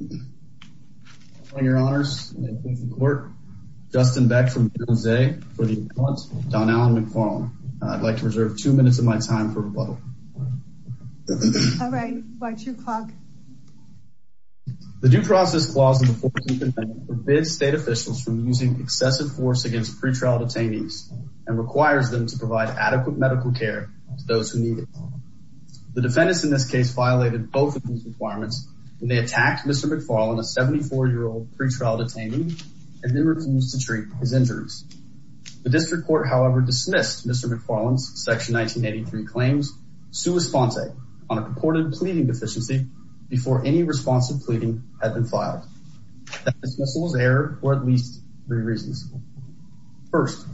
The Due Process Clause of the 14th Amendment forbids state officials from using excessive force against pretrial detainees and requires them to provide adequate medical care to those who need it. The defendants in this case violated both of these requirements when they attacked Mr. McFarlin, a 74-year-old pretrial detainee, and then refused to treat his injuries. The district court, however, dismissed Mr. McFarlin's Section 1983 claims, sua sponte, on a purported pleading deficiency before any responsive pleading had been filed. That dismissal was error for at least three reasons. First,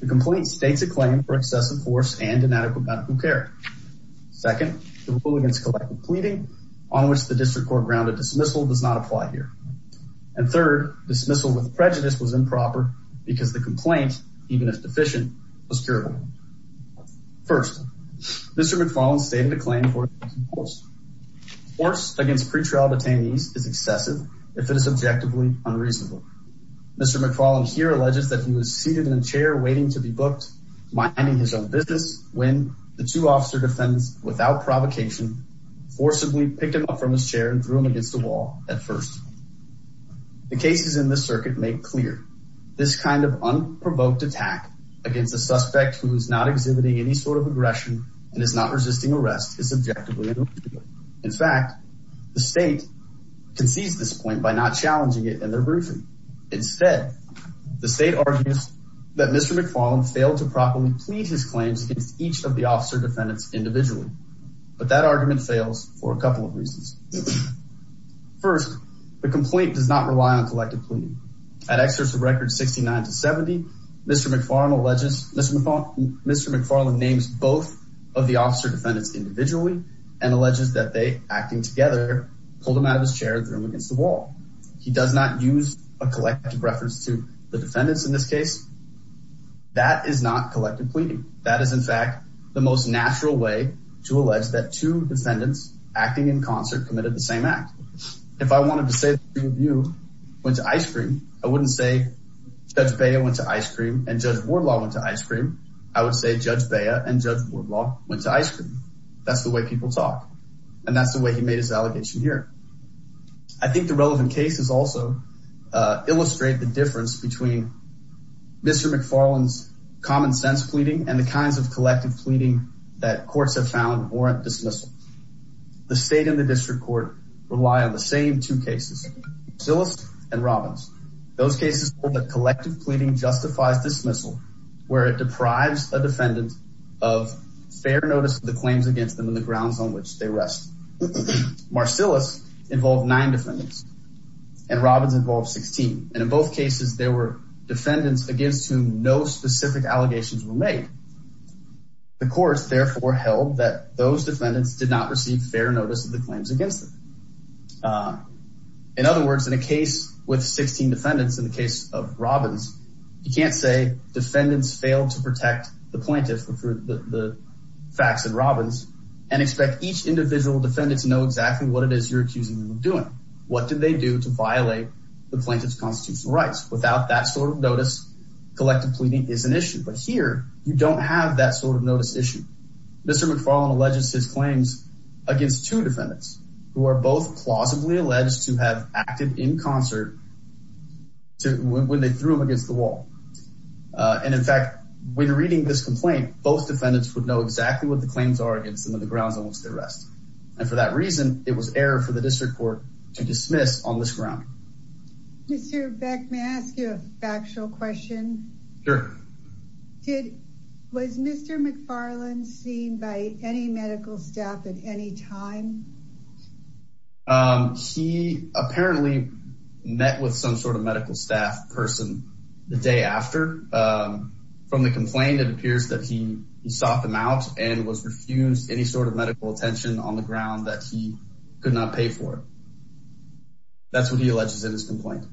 the complaint states a claim for excessive force and inadequate medical care. Second, the rule against collective pleading, on which the district court grounded dismissal, does not apply here. And third, dismissal with prejudice was improper because the complaint, even if deficient, was curable. First, Mr. McFarlin stated a claim for excessive force. Force against pretrial detainees is excessive if it is objectively unreasonable. Mr. McFarlin here alleges that he was seated in a chair waiting to be booked, minding his own defense, without provocation, forcibly picked him up from his chair and threw him against the wall at first. The cases in this circuit make clear this kind of unprovoked attack against a suspect who is not exhibiting any sort of aggression and is not resisting arrest is subjectively unreasonable. In fact, the state concedes this point by not challenging it in their briefing. Instead, the state argues that Mr. McFarlin failed to properly plead his claims against each of the officer defendants individually. But that argument fails for a couple of reasons. First, the complaint does not rely on collective pleading. At excerpts of records 69 to 70, Mr. McFarlin alleges, Mr. McFarlin names both of the officer defendants individually and alleges that they, acting together, pulled him out of his chair and threw him against the wall. He does not use a collective reference to the defendants in this case. That is not collective pleading. That is, in fact, the most natural way to allege that two defendants acting in concert committed the same act. If I wanted to say that three of you went to ice cream, I wouldn't say Judge Bea went to ice cream and Judge Wardlaw went to ice cream. I would say Judge Bea and Judge Wardlaw went to ice cream. That's the way people talk. And that's the way he made his allegation here. I think the relevant cases also illustrate the difference between Mr. McFarlin's common sense pleading and the kinds of collective pleading that courts have found warrant dismissal. The state and the district court rely on the same two cases, Marcillus and Robbins. Those cases hold that collective pleading justifies dismissal, where it deprives a defendant of fair notice of the claims against them and the grounds on which they rest. Marcillus involved nine defendants and Robbins involved 16. And in both cases, there were defendants against whom no specific allegations were made. The courts therefore held that those defendants did not receive fair notice of the claims against them. In other words, in a case with 16 defendants, in the case of Robbins, you can't say defendants failed to protect the plaintiff for the facts in Robbins and expect each individual defendant to know exactly what it is you're accusing them of doing. What did they do to violate the plaintiff's constitutional rights? Without that sort of notice, collective pleading is an issue, but here you don't have that sort of notice issue. Mr. McFarlin alleges his claims against two defendants who are both plausibly alleged to have acted in concert when they threw him against the wall. And in fact, when reading this complaint, both defendants would know exactly what the claims are against them and the grounds on which they rest. And for that reason, it was error for the district court to dismiss on this ground. Mr. Beck, may I ask you a factual question? Sure. Was Mr. McFarlin seen by any medical staff at any time? He apparently met with some sort of medical staff person the day after. From the complaint, it appears that he sought them out and was refused any sort of medical attention on the ground that he could not pay for. That's what he alleges in his complaint.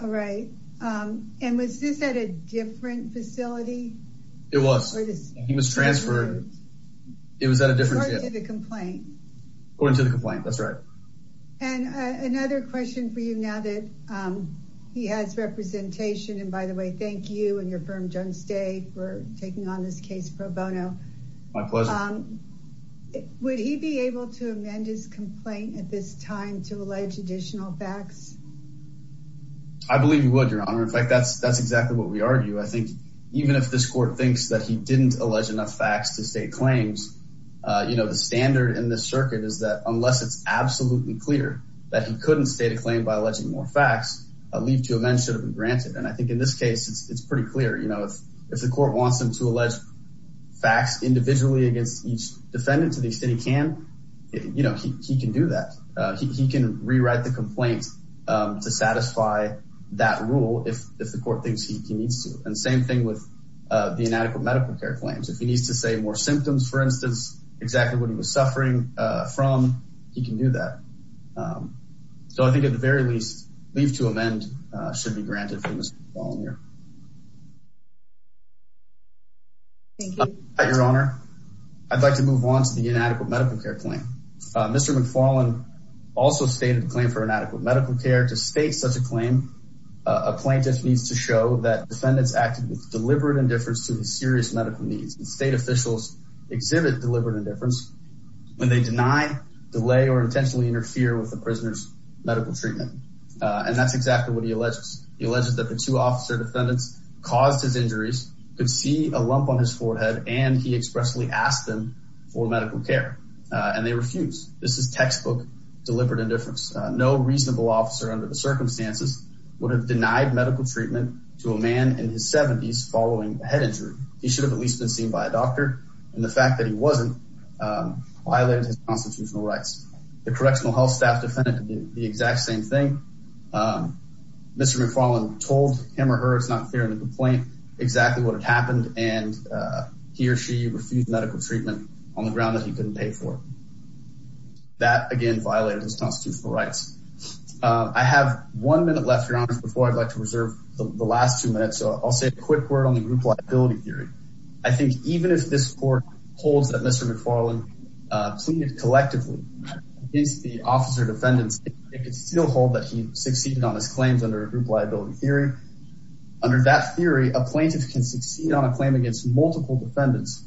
All right. And was this at a different facility? It was. He was transferred. It was at a different... According to the complaint. According to the complaint. That's right. And another question for you now that he has representation, and by the way, thank you and your firm, Jones Day, for taking on this case pro bono. My pleasure. Would he be able to amend his complaint at this time to allege additional facts? I believe he would, Your Honor. In fact, that's exactly what we argue. I think even if this court thinks that he didn't allege enough facts to state claims, you know, the standard in this circuit is that unless it's absolutely clear that he couldn't state a claim by alleging more facts, a leave to amend should have been granted. And I think in this case, it's pretty clear, you know, if the court wants him to allege facts individually against each defendant to the extent he can, you know, he can do that. He can rewrite the complaint to satisfy that rule if the court thinks he needs to. And same thing with the inadequate medical care claims. If he needs to say more symptoms, for instance, exactly what he was suffering from, he can do that. So I think at the very least, leave to amend should be granted from this following year. Thank you. Your Honor, I'd like to move on to the inadequate medical care claim. Mr. McFarland also stated the claim for inadequate medical care. To state such a claim, a plaintiff needs to show that defendants acted with deliberate indifference to his serious medical needs. And state officials exhibit deliberate indifference when they deny, delay, or intentionally interfere with the prisoner's medical treatment. And that's exactly what he alleges. He alleges that the two officer defendants caused his injuries, could see a lump on his forehead, and he expressly asked them for medical care. And they refused. This is textbook deliberate indifference. No reasonable officer under the circumstances would have denied medical treatment to a man in his seventies following a head injury. He should have at least been seen by a doctor. And the fact that he wasn't violated his constitutional rights. The correctional health staff defended the exact same thing. Mr. McFarland told him or her it's not fair to complain exactly what happened and he or she refused medical treatment on the ground that he couldn't pay for. That again, violated his constitutional rights. I have one minute left, Your Honor, before I'd like to reserve the last two minutes. So I'll say a quick word on the group liability theory. I think even if this court holds that Mr. McFarland pleaded collectively against the officer defendants, it could still hold that he succeeded on his claims under a group liability theory. Under that theory, a plaintiff can succeed on a claim against multiple defendants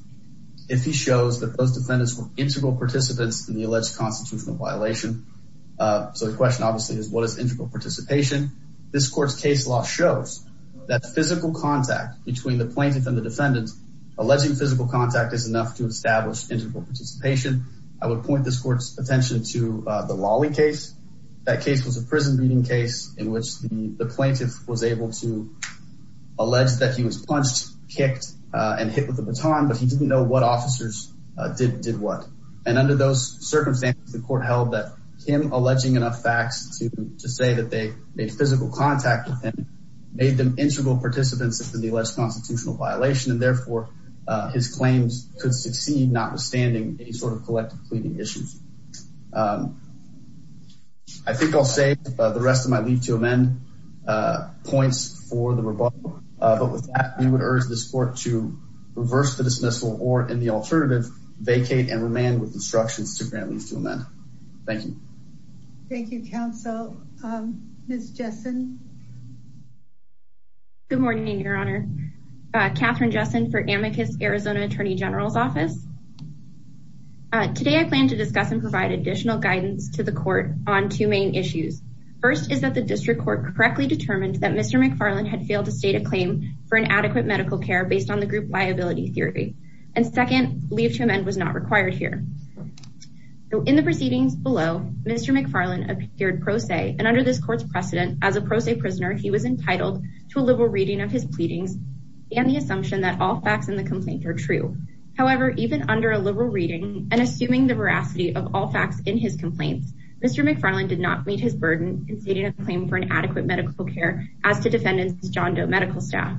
if he shows that those defendants were integral participants in the alleged constitutional violation. So the question obviously is what is integral participation? This court's case law shows that physical contact between the plaintiff and the defendant, alleging physical contact is enough to establish integral participation. I would point this court's attention to the Lawley case. That case was a prison beating case in which the plaintiff was able to allege that he was punched, kicked and hit with a baton, but he didn't know what officers did what. And under those circumstances, the court held that him alleging enough facts to say that they made physical contact with him made them integral participants in the alleged constitutional violation. And therefore his claims could succeed notwithstanding any sort of collective pleading issues. I think I'll save the rest of my leave to amend points for the rebuttal, but with that, we would urge this court to reverse the dismissal or in the alternative, vacate and remain with instructions to grant leave to amend. Thank you. Thank you, counsel. Ms. Jessen. Good morning, Your Honor. Katherine Jessen for Amicus Arizona Attorney General's Office. Today, I plan to discuss and provide additional guidance to the court on two main issues. First is that the district court correctly determined that Mr. McFarland had failed to state a claim for an adequate medical care based on the group liability theory. And second, leave to amend was not required here. In the proceedings below, Mr. McFarland appeared pro se and under this court's precedent as a pro se prisoner, he was entitled to a liberal reading of his pleadings and the assumption that all facts in the complaint are true. However, even under a liberal reading and assuming the veracity of all facts in his complaints, Mr. McFarland did not meet his burden and stated a claim for an adequate medical care as to defendants' John Doe medical staff.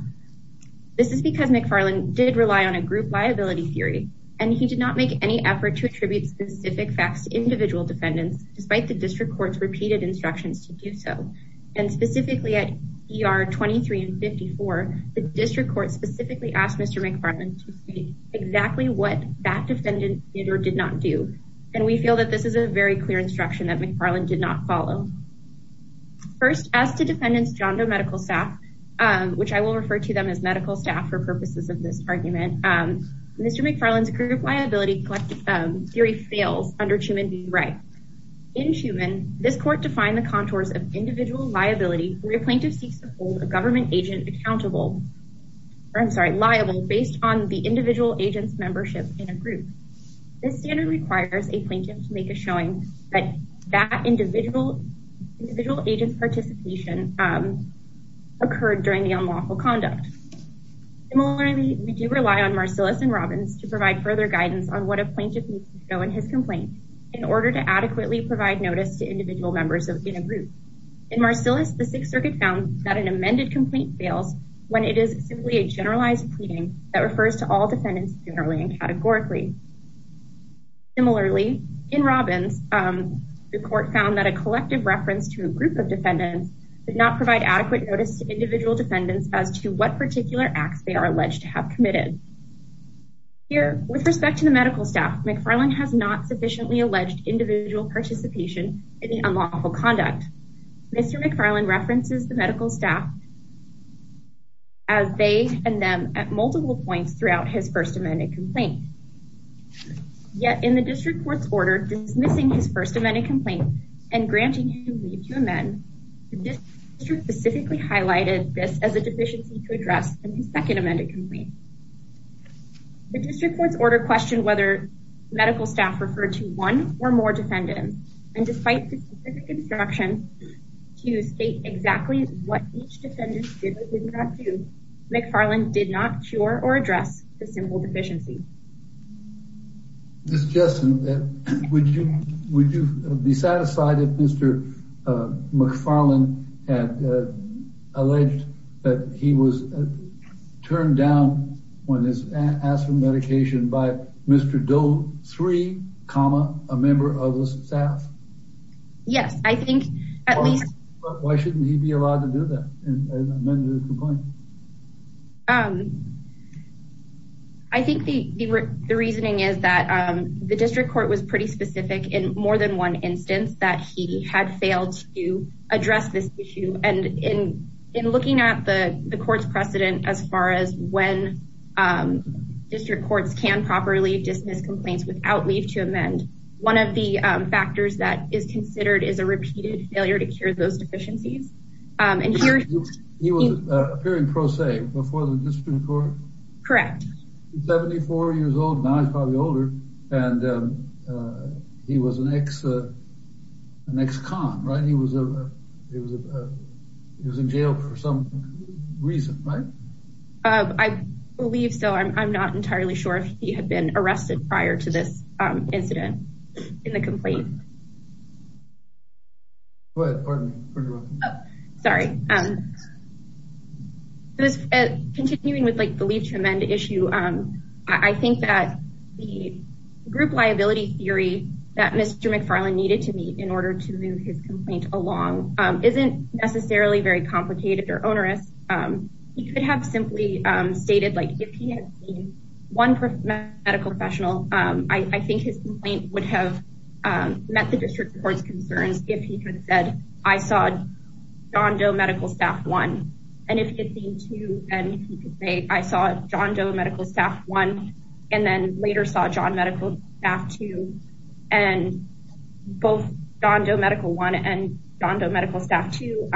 This is because McFarland did rely on a group liability theory and he did not make any effort to attribute specific facts to individual defendants despite the district court's repeated instructions to do so. And specifically at ER 23 and 54, the district court specifically asked Mr. McFarland to state exactly what that defendant did or did not do. And we feel that this is a very clear instruction that McFarland did not follow. First, as to defendants' John Doe medical staff, which I will refer to them as medical staff for purposes of this argument, Mr. McFarland's group liability theory fails under Chuman v. Wright. In Chuman, this court defined the contours of individual liability where a plaintiff's claim is based on the individual agent's membership in a group. This standard requires a plaintiff to make a showing that that individual individual agent's participation occurred during the unlawful conduct. Similarly, we do rely on Marcillus and Robbins to provide further guidance on what a plaintiff needs to show in his complaint in order to adequately provide notice to individual members in a group. In Marcillus, the Sixth Circuit found that an amended complaint fails when it is simply a generalized pleading that refers to all defendants generally and categorically. Similarly, in Robbins, the court found that a collective reference to a group of defendants did not provide adequate notice to individual defendants as to what particular acts they are alleged to have committed. Here, with respect to the medical staff, McFarland has not sufficiently alleged individual participation in the unlawful conduct. Mr. McFarland references the medical staff as they and them at multiple points throughout his first amended complaint. Yet in the district court's order dismissing his first amended complaint and granting him leave to amend, the district specifically highlighted this as a deficiency to address in the second amended complaint. The district court's order questioned whether medical staff referred to one or more to state exactly what each defendant did or did not do. McFarland did not cure or address the simple deficiency. Ms. Jessen, would you be satisfied if Mr. McFarland had alleged that he was turned down when asked for medication by Mr. Doe 3, a member of the staff? Yes, I think at least. Why shouldn't he be allowed to do that? I think the reasoning is that the district court was pretty specific in more than one instance that he had failed to address this issue and in looking at the court's precedent as far as when district courts can properly dismiss complaints without leave to amend. One of the factors that is considered is a repeated failure to cure those deficiencies. And here he was appearing pro se before the district court. Correct. 74 years old, now he's probably older. And he was an ex-con, right? He was in jail for some reason, right? I believe so. I'm not entirely sure if he had been arrested prior to this incident in the complaint. Sorry, continuing with the leave to amend issue. I think that the group liability theory that Mr. McFarland needed to meet in order to move his complaint along isn't necessarily very complicated or onerous. He could have simply stated, like, if he had seen one medical professional, I think his complaint would have met the district court's concerns if he could have said, I saw John Doe Medical Staff 1. And if he had seen two, then he could say, I saw John Doe Medical Staff 1 and then later saw John Doe Medical Staff 2. And both John Doe Medical 1 and John Doe Medical Staff 2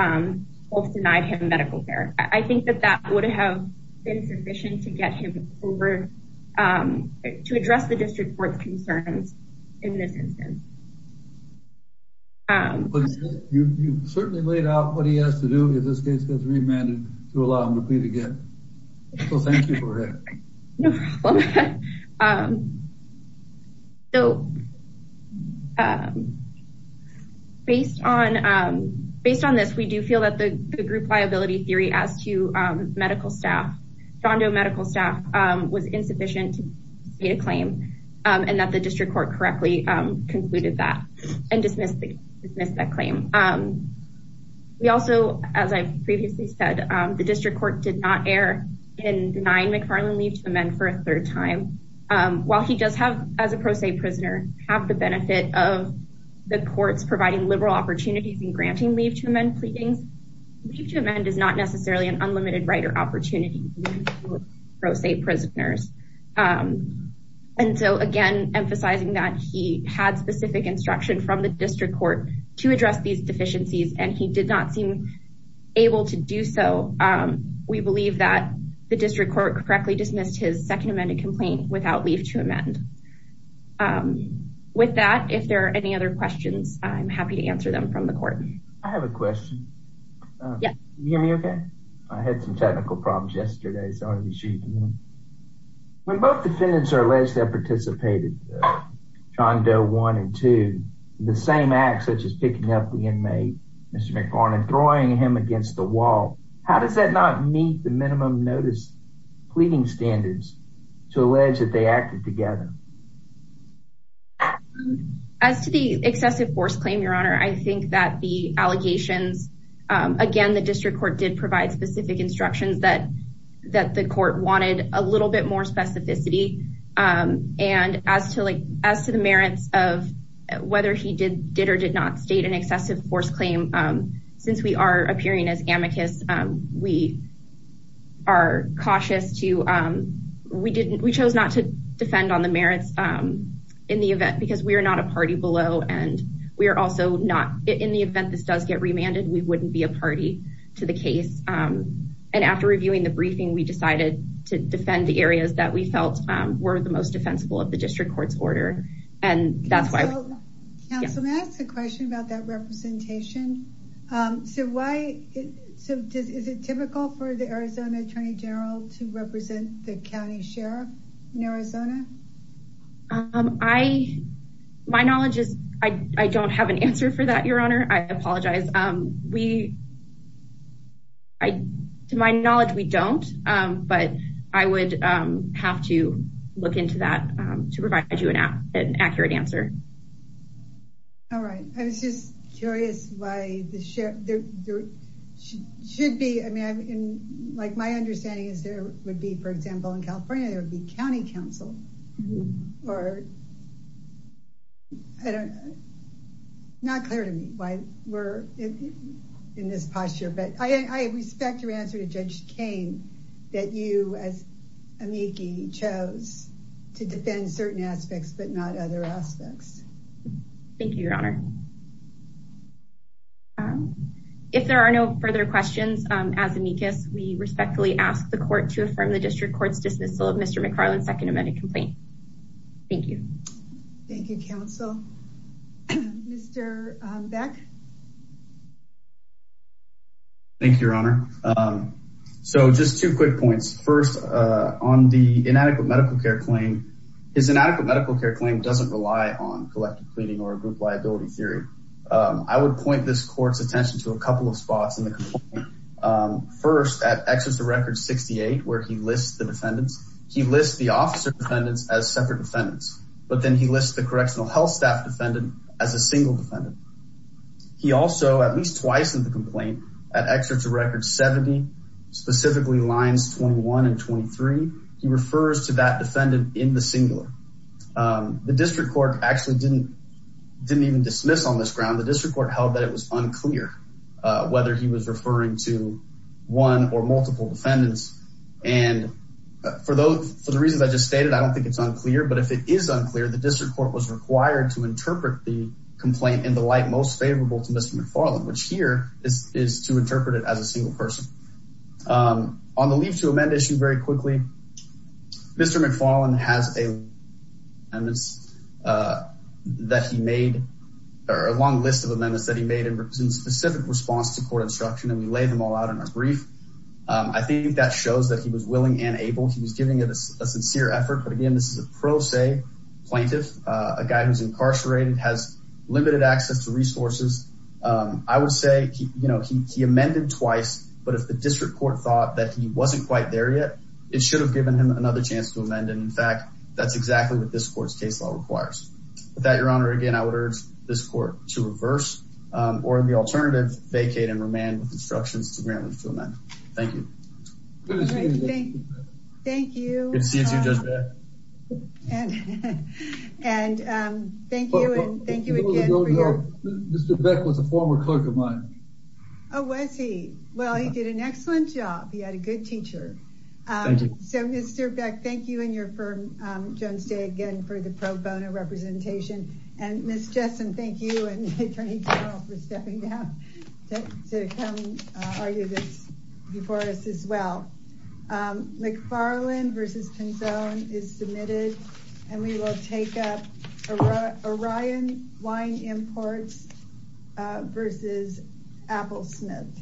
both denied him medical care. I think that that would have been sufficient to get him over to address the district court's concerns in this instance. You certainly laid out what he has to do if this case gets remanded to allow him to plead again. So thank you for that. No problem. So based on based on this, we do feel that the group liability theory as to medical staff, John Doe Medical Staff was insufficient to make a claim and that the district court correctly concluded that and dismissed that claim. We also, as I previously said, the district court did not err in denying McFarland leave to amend for a third time. While he does have as a pro se prisoner have the benefit of the courts providing liberal opportunities and granting leave to amend pleadings, leave to amend is not necessarily an unlimited right or opportunity for pro se prisoners. And so, again, emphasizing that he had specific instruction from the district court to address these deficiencies and he did not seem able to do so. We believe that the district court correctly dismissed his second amended complaint without leave to amend. With that, if there are any other questions, I'm happy to answer them from the court. I have a question. Yeah. You hear me OK? I had some technical problems yesterday, so I'll be shooting. When both defendants are alleged to have participated, John Doe one and two, the same acts such as picking up the inmate, Mr. Wall. How does that not meet the minimum notice pleading standards to allege that they acted together? As to the excessive force claim, your honor, I think that the allegations again, the district court did provide specific instructions that that the court wanted a little bit more specificity. And as to like as to the merits of whether he did did or did not state an excessive force claim, since we are appearing as amicus, we are cautious to we didn't we chose not to defend on the merits in the event because we are not a party below. And we are also not in the event this does get remanded. We wouldn't be a party to the case. And after reviewing the briefing, we decided to defend the areas that we felt were the most defensible of the district court's order. And that's why I asked the question about that representation. So why is it typical for the Arizona attorney general to represent the county sheriff in Arizona? I my knowledge is I don't have an answer for that, your honor. I apologize. We. I to my knowledge, we don't, but I would have to look into that to provide you an accurate answer. All right. I was just curious why the sheriff should be. I mean, like my understanding is there would be, for example, in California, there would be county council or. I don't. Not clear to me why we're in this posture, but I respect your answer to Judge Cain that you as amici chose to defend certain aspects, but not other aspects. Thank you, your honor. If there are no further questions, as amicus, we respectfully ask the court to affirm the district court's dismissal of Mr. McFarland's second amendment complaint. Thank you. Thank you, counsel, Mr. Beck. Thank you, your honor. So just two quick points. First, on the inadequate medical care claim, his inadequate medical care claim doesn't rely on collective pleading or a group liability theory. I would point this court's attention to a couple of spots in the complaint. First, at Exeter Records 68, where he lists the defendants, he lists the officer defendants as separate defendants, but then he lists the correctional health staff defendant as a single defendant. He also, at least twice in the complaint, at Exeter Records 70, specifically lines 21 and 23, he refers to that defendant in the singular. The district court actually didn't even dismiss on this ground. The district court held that it was unclear whether he was referring to one or multiple defendants. And for the reasons I just stated, I don't think it's unclear, but if it is required to interpret the complaint in the light most favorable to Mr. McFarland, which here is to interpret it as a single person. On the leave to amend issue, very quickly, Mr. McFarland has a long list of amendments that he made in specific response to court instruction, and we lay them all out in our brief. I think that shows that he was willing and able. He was giving it a sincere effort. But again, this is a pro se plaintiff, a guy who's incarcerated, has limited access to resources. I would say, you know, he amended twice. But if the district court thought that he wasn't quite there yet, it should have given him another chance to amend. And in fact, that's exactly what this court's case law requires. With that, Your Honor, again, I would urge this court to reverse or the alternative, vacate and remand with instructions to grant leave to amend. Thank you. Thank you. It seems you've done that. And thank you. And thank you again. Mr. Beck was a former clerk of mine. Oh, was he? Well, he did an excellent job. He had a good teacher. So, Mr. Beck, thank you and your firm, Jones Day, again, for the pro bono representation. And Ms. Jessen, thank you and Attorney General for stepping down to come argue this before us as well. McFarland versus Pinzone is submitted and we will take up Orion Wine Imports versus Appelsmith.